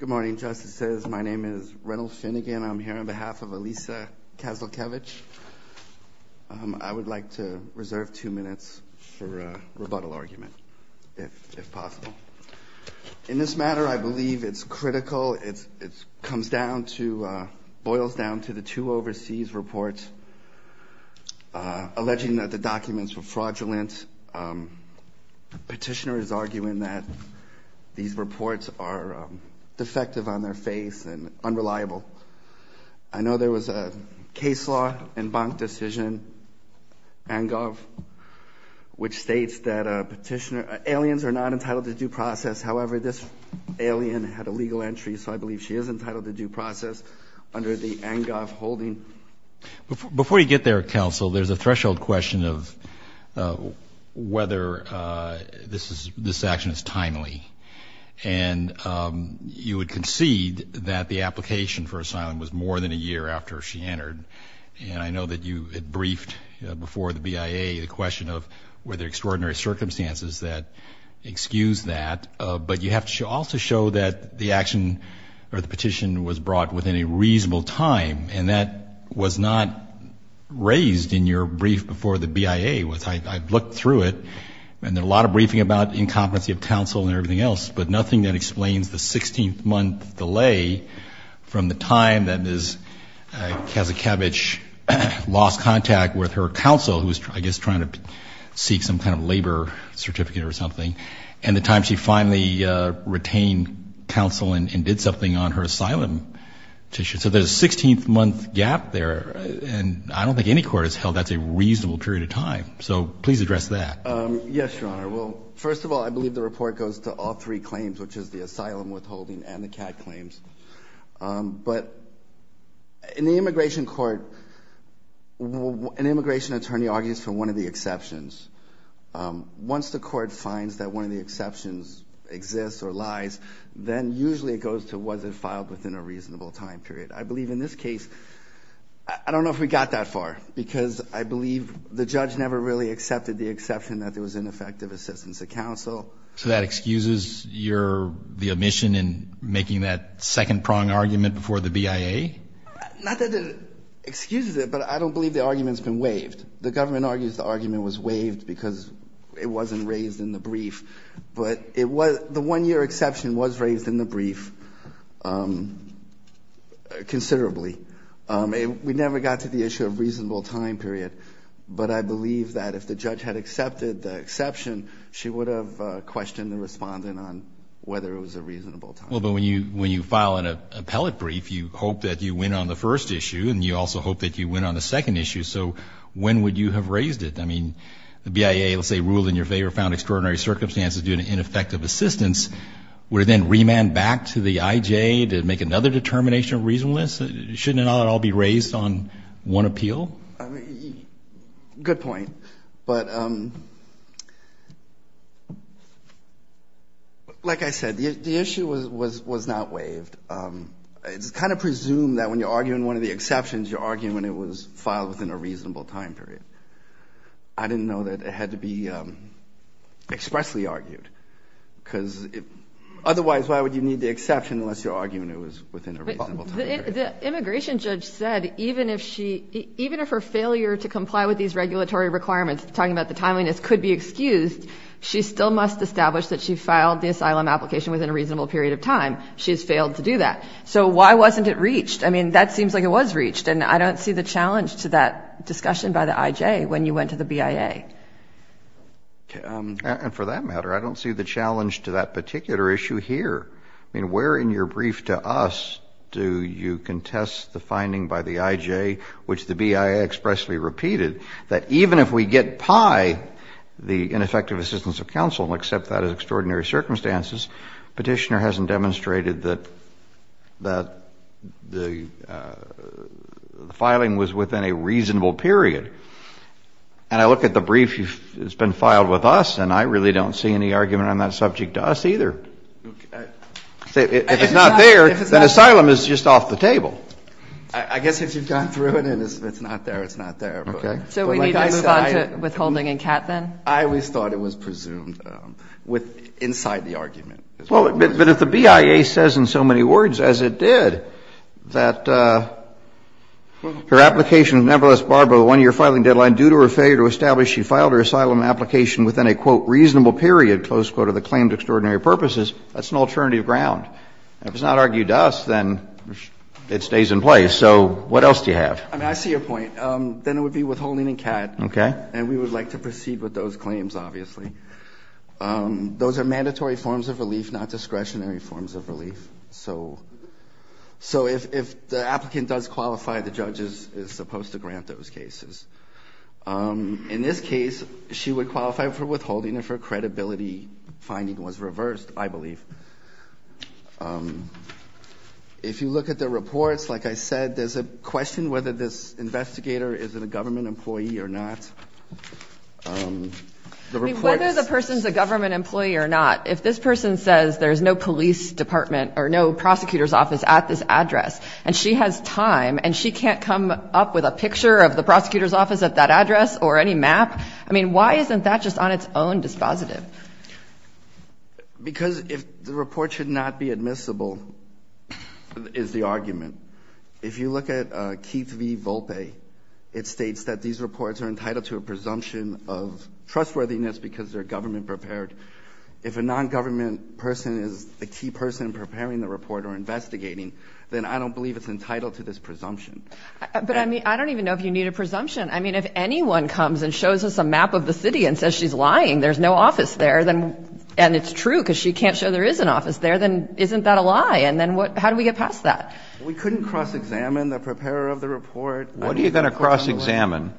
Good morning, Justices. My name is Reynolds Finnegan. I'm here on behalf of Alesia Kazakevich. I would like to reserve two minutes for a rebuttal argument, if possible. In this matter, I believe it's critical. It comes down to – boils down to the two overseas reports alleging that the documents were fraudulent. The petitioner is arguing that these reports are defective on their face and unreliable. I know there was a case law in Bank Decision, ANGOV, which states that aliens are not entitled to due process. However, this alien had a legal entry, so I believe she is entitled to due process under the ANGOV holding. Before you get there, Counsel, there's a threshold question of whether this is – this action is timely. And you would concede that the application for asylum was more than a year after she entered. And I know that you had briefed before the BIA the question of were there extraordinary circumstances that excused that. But you have to also show that the action or the petition was brought within a reasonable time. And that was not raised in your brief before the BIA. I looked through it, and there are a lot of briefing about incompetency of counsel and everything else, but nothing that explains the 16th month delay from the time that Ms. Kazakiewicz lost contact with her counsel, who was, I guess, trying to seek some kind of labor certificate or something, and the time she finally retained counsel and did something on her asylum petition. So there's a 16th month gap there, and I don't think any court has held that's a reasonable period of time. So please address that. Yes, Your Honor. Well, first of all, I believe the report goes to all three claims, which is the asylum withholding and the CAD claims. But in the immigration court, an immigration attorney argues for one of the exceptions. Once the court finds that one of the exceptions exists or lies, then usually it goes to was it filed within a reasonable time period. I believe in this case, I don't know if we got that far, because I believe the judge never really accepted the exception that there was ineffective assistance of counsel. So that excuses your omission in making that second-prong argument before the BIA? Not that it excuses it, but I don't believe the argument's been waived. The government argues the argument was waived because it wasn't raised in the brief. But the one-year exception was raised in the brief considerably. We never got to the issue of reasonable time period. But I believe that if the judge had accepted the exception, she would have questioned the respondent on whether it was a reasonable time period. Well, but when you file an appellate brief, you hope that you win on the first issue, and you also hope that you win on the second issue. So when would you have raised it? I mean, the BIA, let's say, ruled in your favor, found extraordinary circumstances due to ineffective assistance. Would it then remand back to the IJ to make another determination of reasonableness? Shouldn't it all be raised on one appeal? Good point. But like I said, the issue was not waived. It's kind of presumed that when you're arguing one of the exceptions, you're arguing when it was filed within a reasonable time period. I didn't know that it had to be expressly argued, because otherwise why would you need the exception unless you're arguing it was within a reasonable time period? The immigration judge said even if her failure to comply with these regulatory requirements, talking about the timeliness, could be excused, she still must establish that she filed the asylum application within a reasonable period of time. So why wasn't it reached? I mean, that seems like it was reached, and I don't see the challenge to that discussion by the IJ when you went to the BIA. And for that matter, I don't see the challenge to that particular issue here. I mean, where in your brief to us do you contest the finding by the IJ, which the BIA expressly repeated, that even if we get pie the ineffective assistance of counsel and accept that as extraordinary circumstances, Petitioner hasn't demonstrated that the filing was within a reasonable period. And I look at the brief that's been filed with us, and I really don't see any argument on that subject to us either. If it's not there, then asylum is just off the table. I guess if you've gone through it and it's not there, it's not there. Okay. So we need to move on to withholding and CAT then? I always thought it was presumed inside the argument. Well, but if the BIA says in so many words as it did that her application is nevertheless barred by the one-year filing deadline due to her failure to establish she filed her asylum application within a, quote, reasonable period, close quote, of the claimed extraordinary purposes, that's an alternative ground. If it's not argued to us, then it stays in place. So what else do you have? I mean, I see your point. Then it would be withholding and CAT. Okay. And we would like to proceed with those claims, obviously. Those are mandatory forms of relief, not discretionary forms of relief. So if the applicant does qualify, the judge is supposed to grant those cases. In this case, she would qualify for withholding if her credibility finding was reversed, I believe. If you look at the reports, like I said, there's a question whether this investigator is a government employee or not. The reports. I mean, whether the person is a government employee or not, if this person says there's no police department or no prosecutor's office at this address and she has time and she can't come up with a picture of the prosecutor's office at that address or any map, I mean, why isn't that just on its own dispositive? Because if the report should not be admissible is the argument. If you look at Keith v. Volpe, it states that these reports are entitled to a presumption of trustworthiness because they're government prepared. If a nongovernment person is the key person preparing the report or investigating, then I don't believe it's entitled to this presumption. But, I mean, I don't even know if you need a presumption. I mean, if anyone comes and shows us a map of the city and says she's lying, there's no office there, and it's true because she can't show there is an office there, then isn't that a lie? And then how do we get past that? We couldn't cross-examine the preparer of the report. What are you going to cross-examine?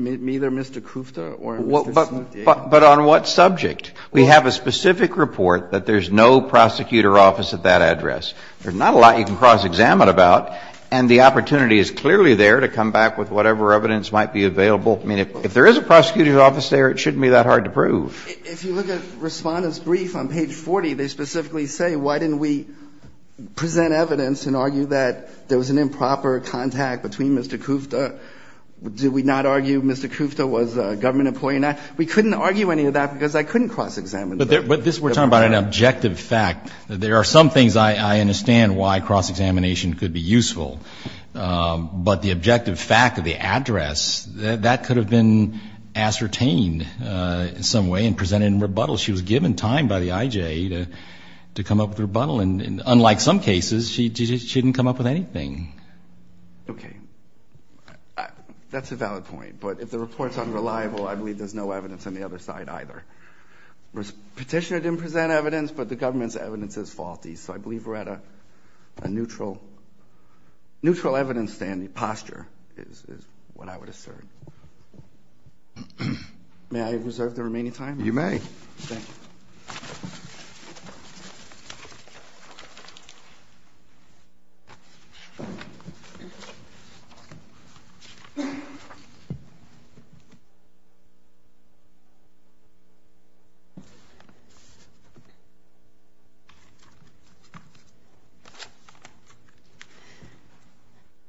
Either Mr. Kufta or Mr. Sandiego. But on what subject? We have a specific report that there's no prosecutor's office at that address. There's not a lot you can cross-examine about, and the opportunity is clearly there to come back with whatever evidence might be available. I mean, if there is a prosecutor's office there, it shouldn't be that hard to prove. If you look at Respondent's brief on page 40, they specifically say, why didn't we present evidence and argue that there was an improper contact between Mr. Kufta? Did we not argue Mr. Kufta was a government employee or not? We couldn't argue any of that because I couldn't cross-examine the preparer. But this, we're talking about an objective fact. There are some things I understand why cross-examination could be useful, but the objective fact of the address, that could have been ascertained in some way and presented in rebuttal. She was given time by the IJ to come up with a rebuttal, and unlike some cases, she didn't come up with anything. Okay. That's a valid point. But if the report's unreliable, I believe there's no evidence on the other side either. Petitioner didn't present evidence, but the government's evidence is faulty. So I believe we're at a neutral evidence posture is what I would assert. May I reserve the remaining time? You may. Thank you.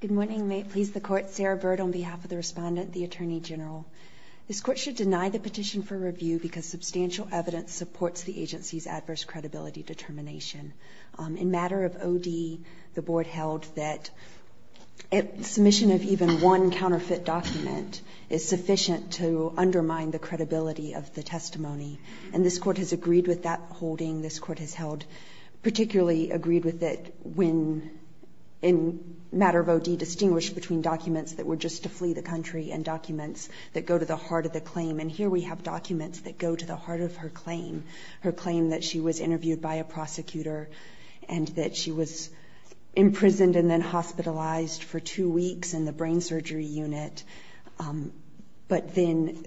Good morning. May it please the Court. Sarah Bird on behalf of the Respondent, the Attorney General. This Court should deny the petition for review because substantial evidence supports the agency's adverse credibility determination. In matter of OD, the Board held that submission of even one counterfeit document is sufficient to undermine the credibility of the testimony. And this Court has agreed with that holding. This Court has held particularly agreed with it when, in matter of OD, distinguished between documents that were just to flee the country and documents that go to the heart of the claim. And here we have documents that go to the heart of her claim, her claim that she was interviewed by a prosecutor and that she was imprisoned and then hospitalized for two weeks in the brain surgery unit. But then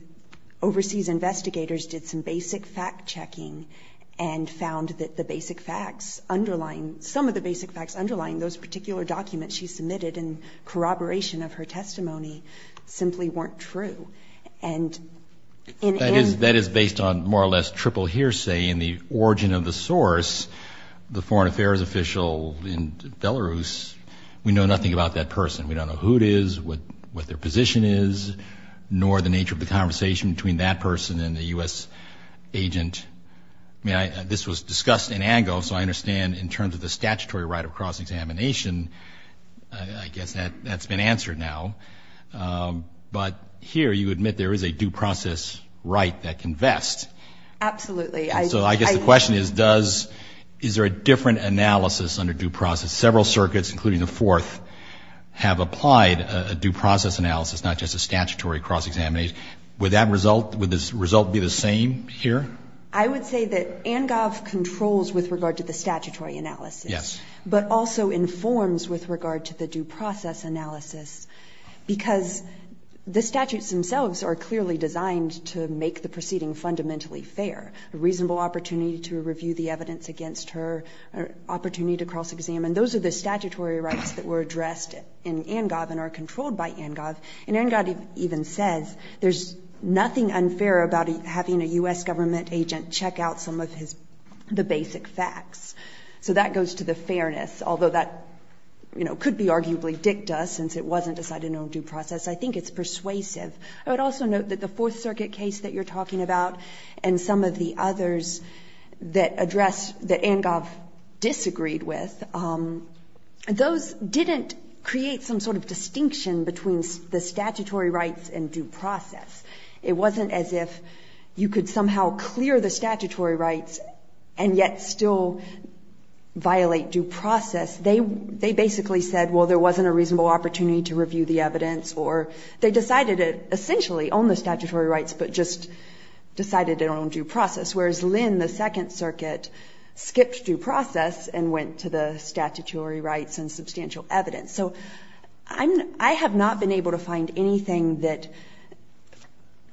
overseas investigators did some basic fact-checking and found that the basic facts underlying, some of the basic facts underlying those particular documents she submitted in corroboration of her testimony simply weren't true. And in... That is based on more or less triple hearsay. In the origin of the source, the foreign affairs official in Belarus, we know nothing about that person. We don't know who it is, what their position is, nor the nature of the conversation between that person and the U.S. agent. I mean, this was discussed in ANGO, so I understand in terms of the statutory right of cross-examination, I guess that's been answered now. But here you admit there is a due process right that can vest. Absolutely. So I guess the question is, does, is there a different analysis under due process? Several circuits, including the fourth, have applied a due process analysis, not just a statutory cross-examination. Would that result, would the result be the same here? I would say that ANGOV controls with regard to the statutory analysis. Yes. But also informs with regard to the due process analysis because the statutes themselves are clearly designed to make the proceeding fundamentally fair. A reasonable opportunity to review the evidence against her, an opportunity to cross-examine. Those are the statutory rights that were addressed in ANGOV and are controlled by ANGOV. And ANGOV even says there's nothing unfair about having a U.S. government agent check out some of his, the basic facts. So that goes to the fairness, although that, you know, could be arguably dicta since it wasn't decided in a due process. I think it's persuasive. I would also note that the Fourth Circuit case that you're talking about and some of the others that address, that ANGOV disagreed with, those didn't create some sort of distinction between the statutory rights and due process. It wasn't as if you could somehow clear the statutory rights and yet still violate due process. They basically said, well, there wasn't a reasonable opportunity to review the evidence or they decided to essentially own the statutory rights but just decided to own due process, whereas Lynn, the Second Circuit, skipped due process and went to the statutory rights and substantial evidence. So I have not been able to find anything that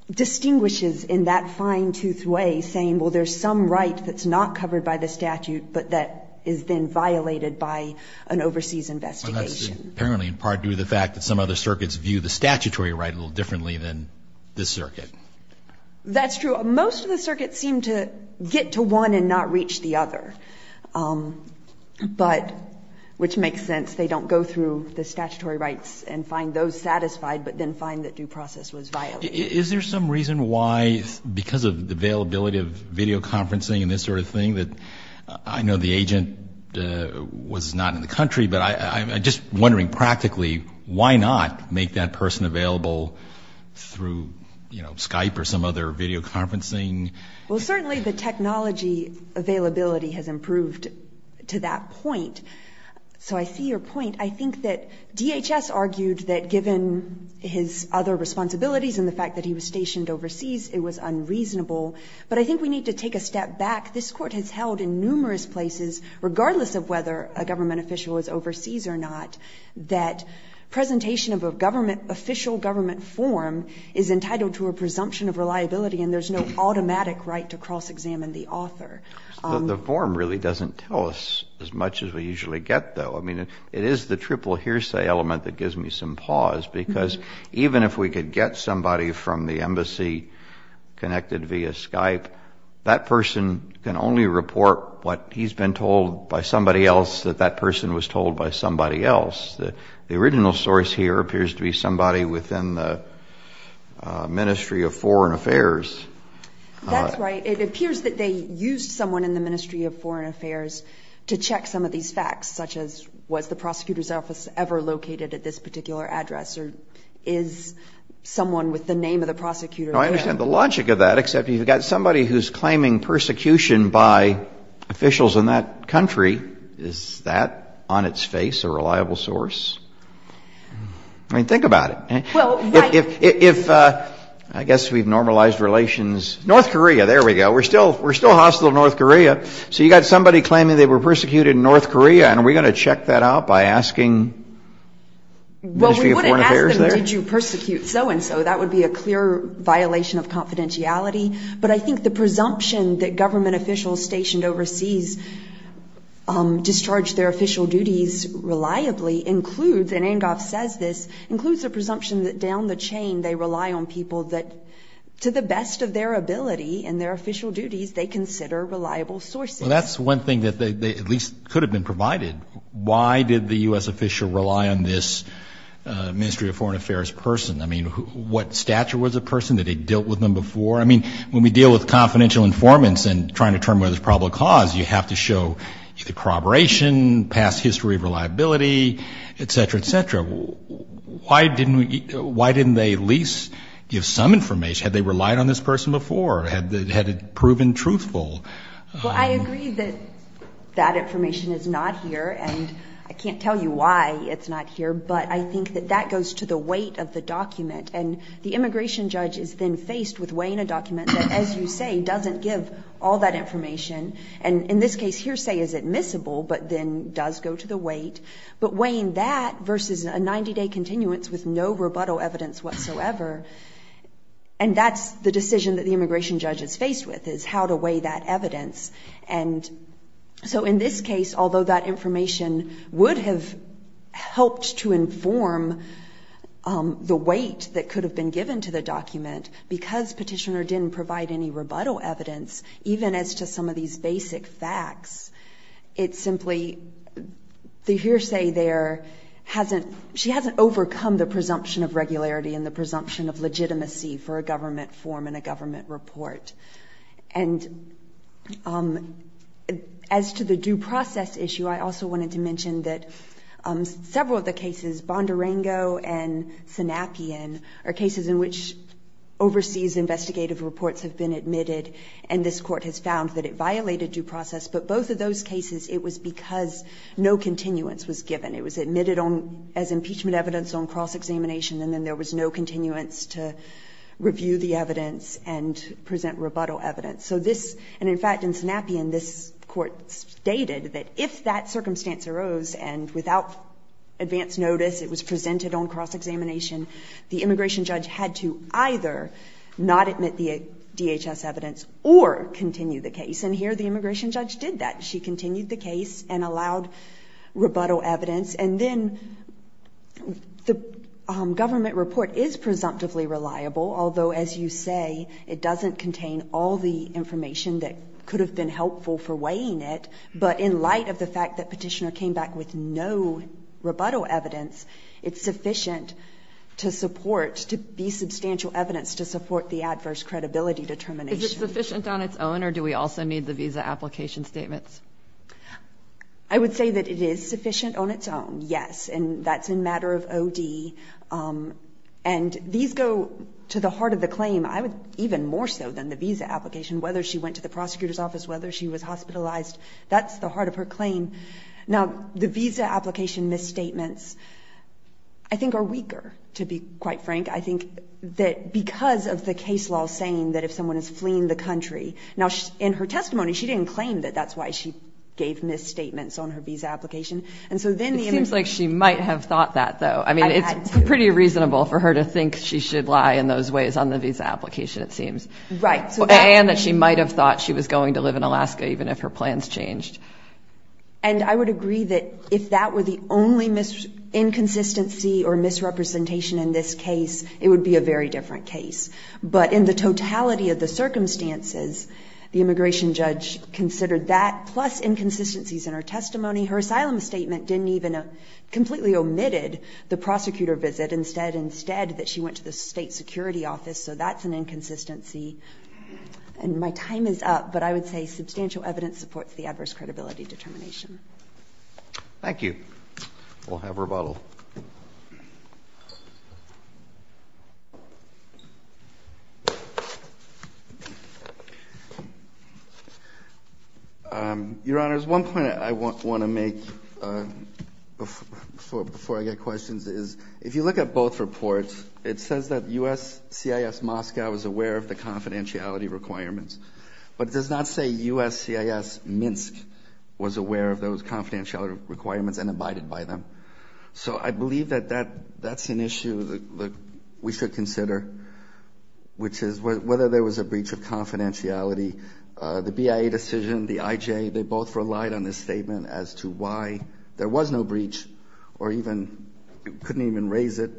distinguishes in that fine-toothed way saying, well, there's some right that's not covered by the statute but that is then violated by an overseas investigation. Roberts. Apparently in part due to the fact that some other circuits view the statutory right a little differently than this circuit. That's true. Most of the circuits seem to get to one and not reach the other. But, which makes sense, they don't go through the statutory rights and find those satisfied but then find that due process was violated. Is there some reason why, because of the availability of video conferencing and this sort of thing, that I know the agent was not in the country, but I'm just wondering practically why not make that person available through Skype or some other video conferencing? Well, certainly the technology availability has improved to that point. So I see your point. I think that DHS argued that given his other responsibilities and the fact that he was stationed overseas, it was unreasonable. But I think we need to take a step back. This Court has held in numerous places, regardless of whether a government official is overseas or not, that presentation of a government, official government form is entitled to a presumption of reliability and there's no automatic right to cross-examine the author. The form really doesn't tell us as much as we usually get, though. I mean, it is the triple hearsay element that gives me some pause, because even if we could get somebody from the embassy connected via Skype, that person can only report what he's been told by somebody else that that person was told by somebody else. The original source here appears to be somebody within the Ministry of Foreign Affairs. That's right. It appears that they used someone in the Ministry of Foreign Affairs to check some of these facts, such as was the prosecutor's office ever located at this particular address or is someone with the name of the prosecutor there? I understand the logic of that, except you've got somebody who's claiming persecution by officials in that country. Is that, on its face, a reliable source? I mean, think about it. If, I guess we've normalized relations. North Korea, there we go. We're still hostile to North Korea. So you've got somebody claiming they were persecuted in North Korea, and are we going to check that out by asking the Ministry of Foreign Affairs there? Well, we wouldn't ask them, did you persecute so-and-so? That would be a clear violation of confidentiality. But I think the presumption that government officials stationed overseas discharge their official duties reliably includes, and Angoff says this, includes the presumption that down the chain they rely on people that, to the best of their ability and their official duties, they consider reliable sources. Well, that's one thing that at least could have been provided. Why did the U.S. official rely on this Ministry of Foreign Affairs person? I mean, what stature was a person? Did he deal with them before? I mean, when we deal with confidential informants and trying to determine whether there's probable cause, you have to show either corroboration, past history of reliability, et cetera, et cetera. Why didn't they at least give some information? Had they relied on this person before? Had it proven truthful? Well, I agree that that information is not here, and I can't tell you why it's not here. But I think that that goes to the weight of the document. And the immigration judge is then faced with weighing a document that, as you say, doesn't give all that information. And in this case, hearsay is admissible, but then does go to the weight. But weighing that versus a 90-day continuance with no rebuttal evidence whatsoever, and that's the decision that the immigration judge is faced with, is how to weigh that evidence. And so in this case, although that information would have helped to inform the weight that could have been given to the document, because Petitioner didn't provide any rebuttal evidence, even as to some of these basic facts, it simply, the hearsay there hasn't, she hasn't overcome the presumption of regularity and the presumption of legitimacy for a government form and a government report. And as to the due process issue, I also wanted to mention that several of the cases, Bondurango and Sanapien, are cases in which overseas investigative reports have been admitted, and this Court has found that it violated due process. But both of those cases, it was because no continuance was given. It was admitted as impeachment evidence on cross-examination, and then there was no rebuttal evidence. So this, and in fact in Sanapien, this Court stated that if that circumstance arose, and without advance notice, it was presented on cross-examination, the immigration judge had to either not admit the DHS evidence or continue the case. And here the immigration judge did that. She continued the case and allowed rebuttal evidence, and then the government report is presumptively reliable, although as you say, it doesn't contain all the information that could have been helpful for weighing it. But in light of the fact that Petitioner came back with no rebuttal evidence, it's sufficient to support, to be substantial evidence to support the adverse credibility determination. Is it sufficient on its own, or do we also need the visa application statements? I would say that it is sufficient on its own, yes. And that's a matter of O.D. And these go to the heart of the claim, even more so than the visa application. Whether she went to the prosecutor's office, whether she was hospitalized, that's the heart of her claim. Now the visa application misstatements, I think are weaker, to be quite frank. I think that because of the case law saying that if someone is fleeing the country, now in her testimony she didn't claim that that's why she gave misstatements on her visa application. It seems like she might have thought that, though. I mean, it's pretty reasonable for her to think she should lie in those ways on the visa application, it seems. And that she might have thought she was going to live in Alaska even if her plans changed. And I would agree that if that were the only inconsistency or misrepresentation in this case, it would be a very different case. But in the totality of the circumstances, the immigration judge considered that plus inconsistencies in her testimony. Her asylum statement didn't even completely omitted the prosecutor visit, instead that she went to the state security office. So that's an inconsistency. And my time is up, but I would say substantial evidence supports the adverse credibility determination. Thank you. We'll have rebuttal. Your Honor, there's one point I want to make before I get questions. If you look at both reports, it says that USCIS Moscow is aware of the confidentiality requirements. But it does not say USCIS Minsk was aware of those confidentiality requirements and abided by them. So I believe that that's an issue that we should consider, which is whether there was a breach of confidentiality The BIA decision, the IJ, they both relied on this statement as to why there was no breach or even couldn't even raise it.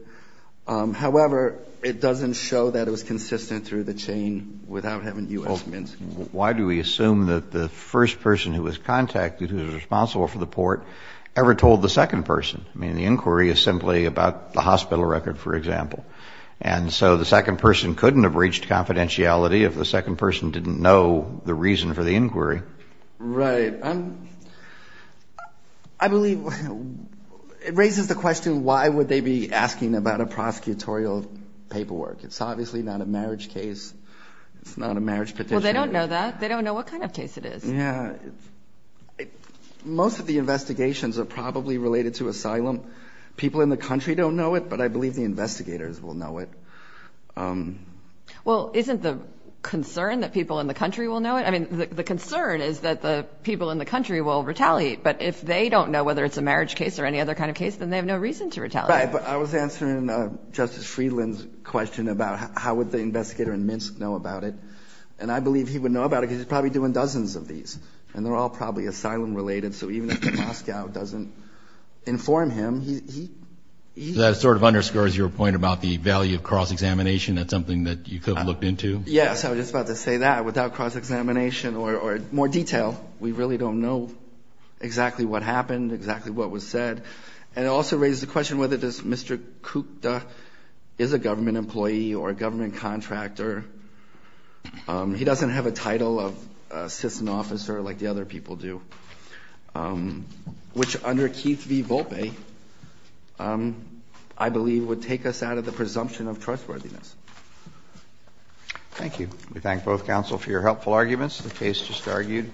However, it doesn't show that it was consistent through the chain without having U.S. Minsk. Why do we assume that the first person who was contacted, who was responsible for the port, ever told the second person? I mean, the inquiry is simply about the hospital record, for example. And so the second person couldn't have reached confidentiality if the second person didn't know the reason for the inquiry. Right. I believe it raises the question, why would they be asking about a prosecutorial paperwork? It's obviously not a marriage case. It's not a marriage petition. Well, they don't know that. They don't know what kind of case it is. Yeah. Most of the investigations are probably related to asylum. People in the country don't know it, but I believe the investigators will know it. Well, isn't the concern that people in the country will know it? I mean, the concern is that the people in the country will retaliate. But if they don't know whether it's a marriage case or any other kind of case, then they have no reason to retaliate. Right. But I was answering Justice Friedland's question about how would the investigator in Minsk know about it. And I believe he would know about it because he's probably doing dozens of these, and they're all probably asylum-related. So even if Moscow doesn't inform him, he... That sort of underscores your point about the value of cross-examination. That's something that you could have looked into? Yes. I was just about to say that. Without cross-examination or more detail, we really don't know exactly what happened, exactly what was said. And it also raises the question whether Mr. Kukda is a government employee or a government contractor. He doesn't have a title of assistant officer like the other people do, which under Keith v. Volpe, I believe, would take us out of the presumption of trustworthiness. Thank you. We thank both counsel for your helpful arguments. The case just argued.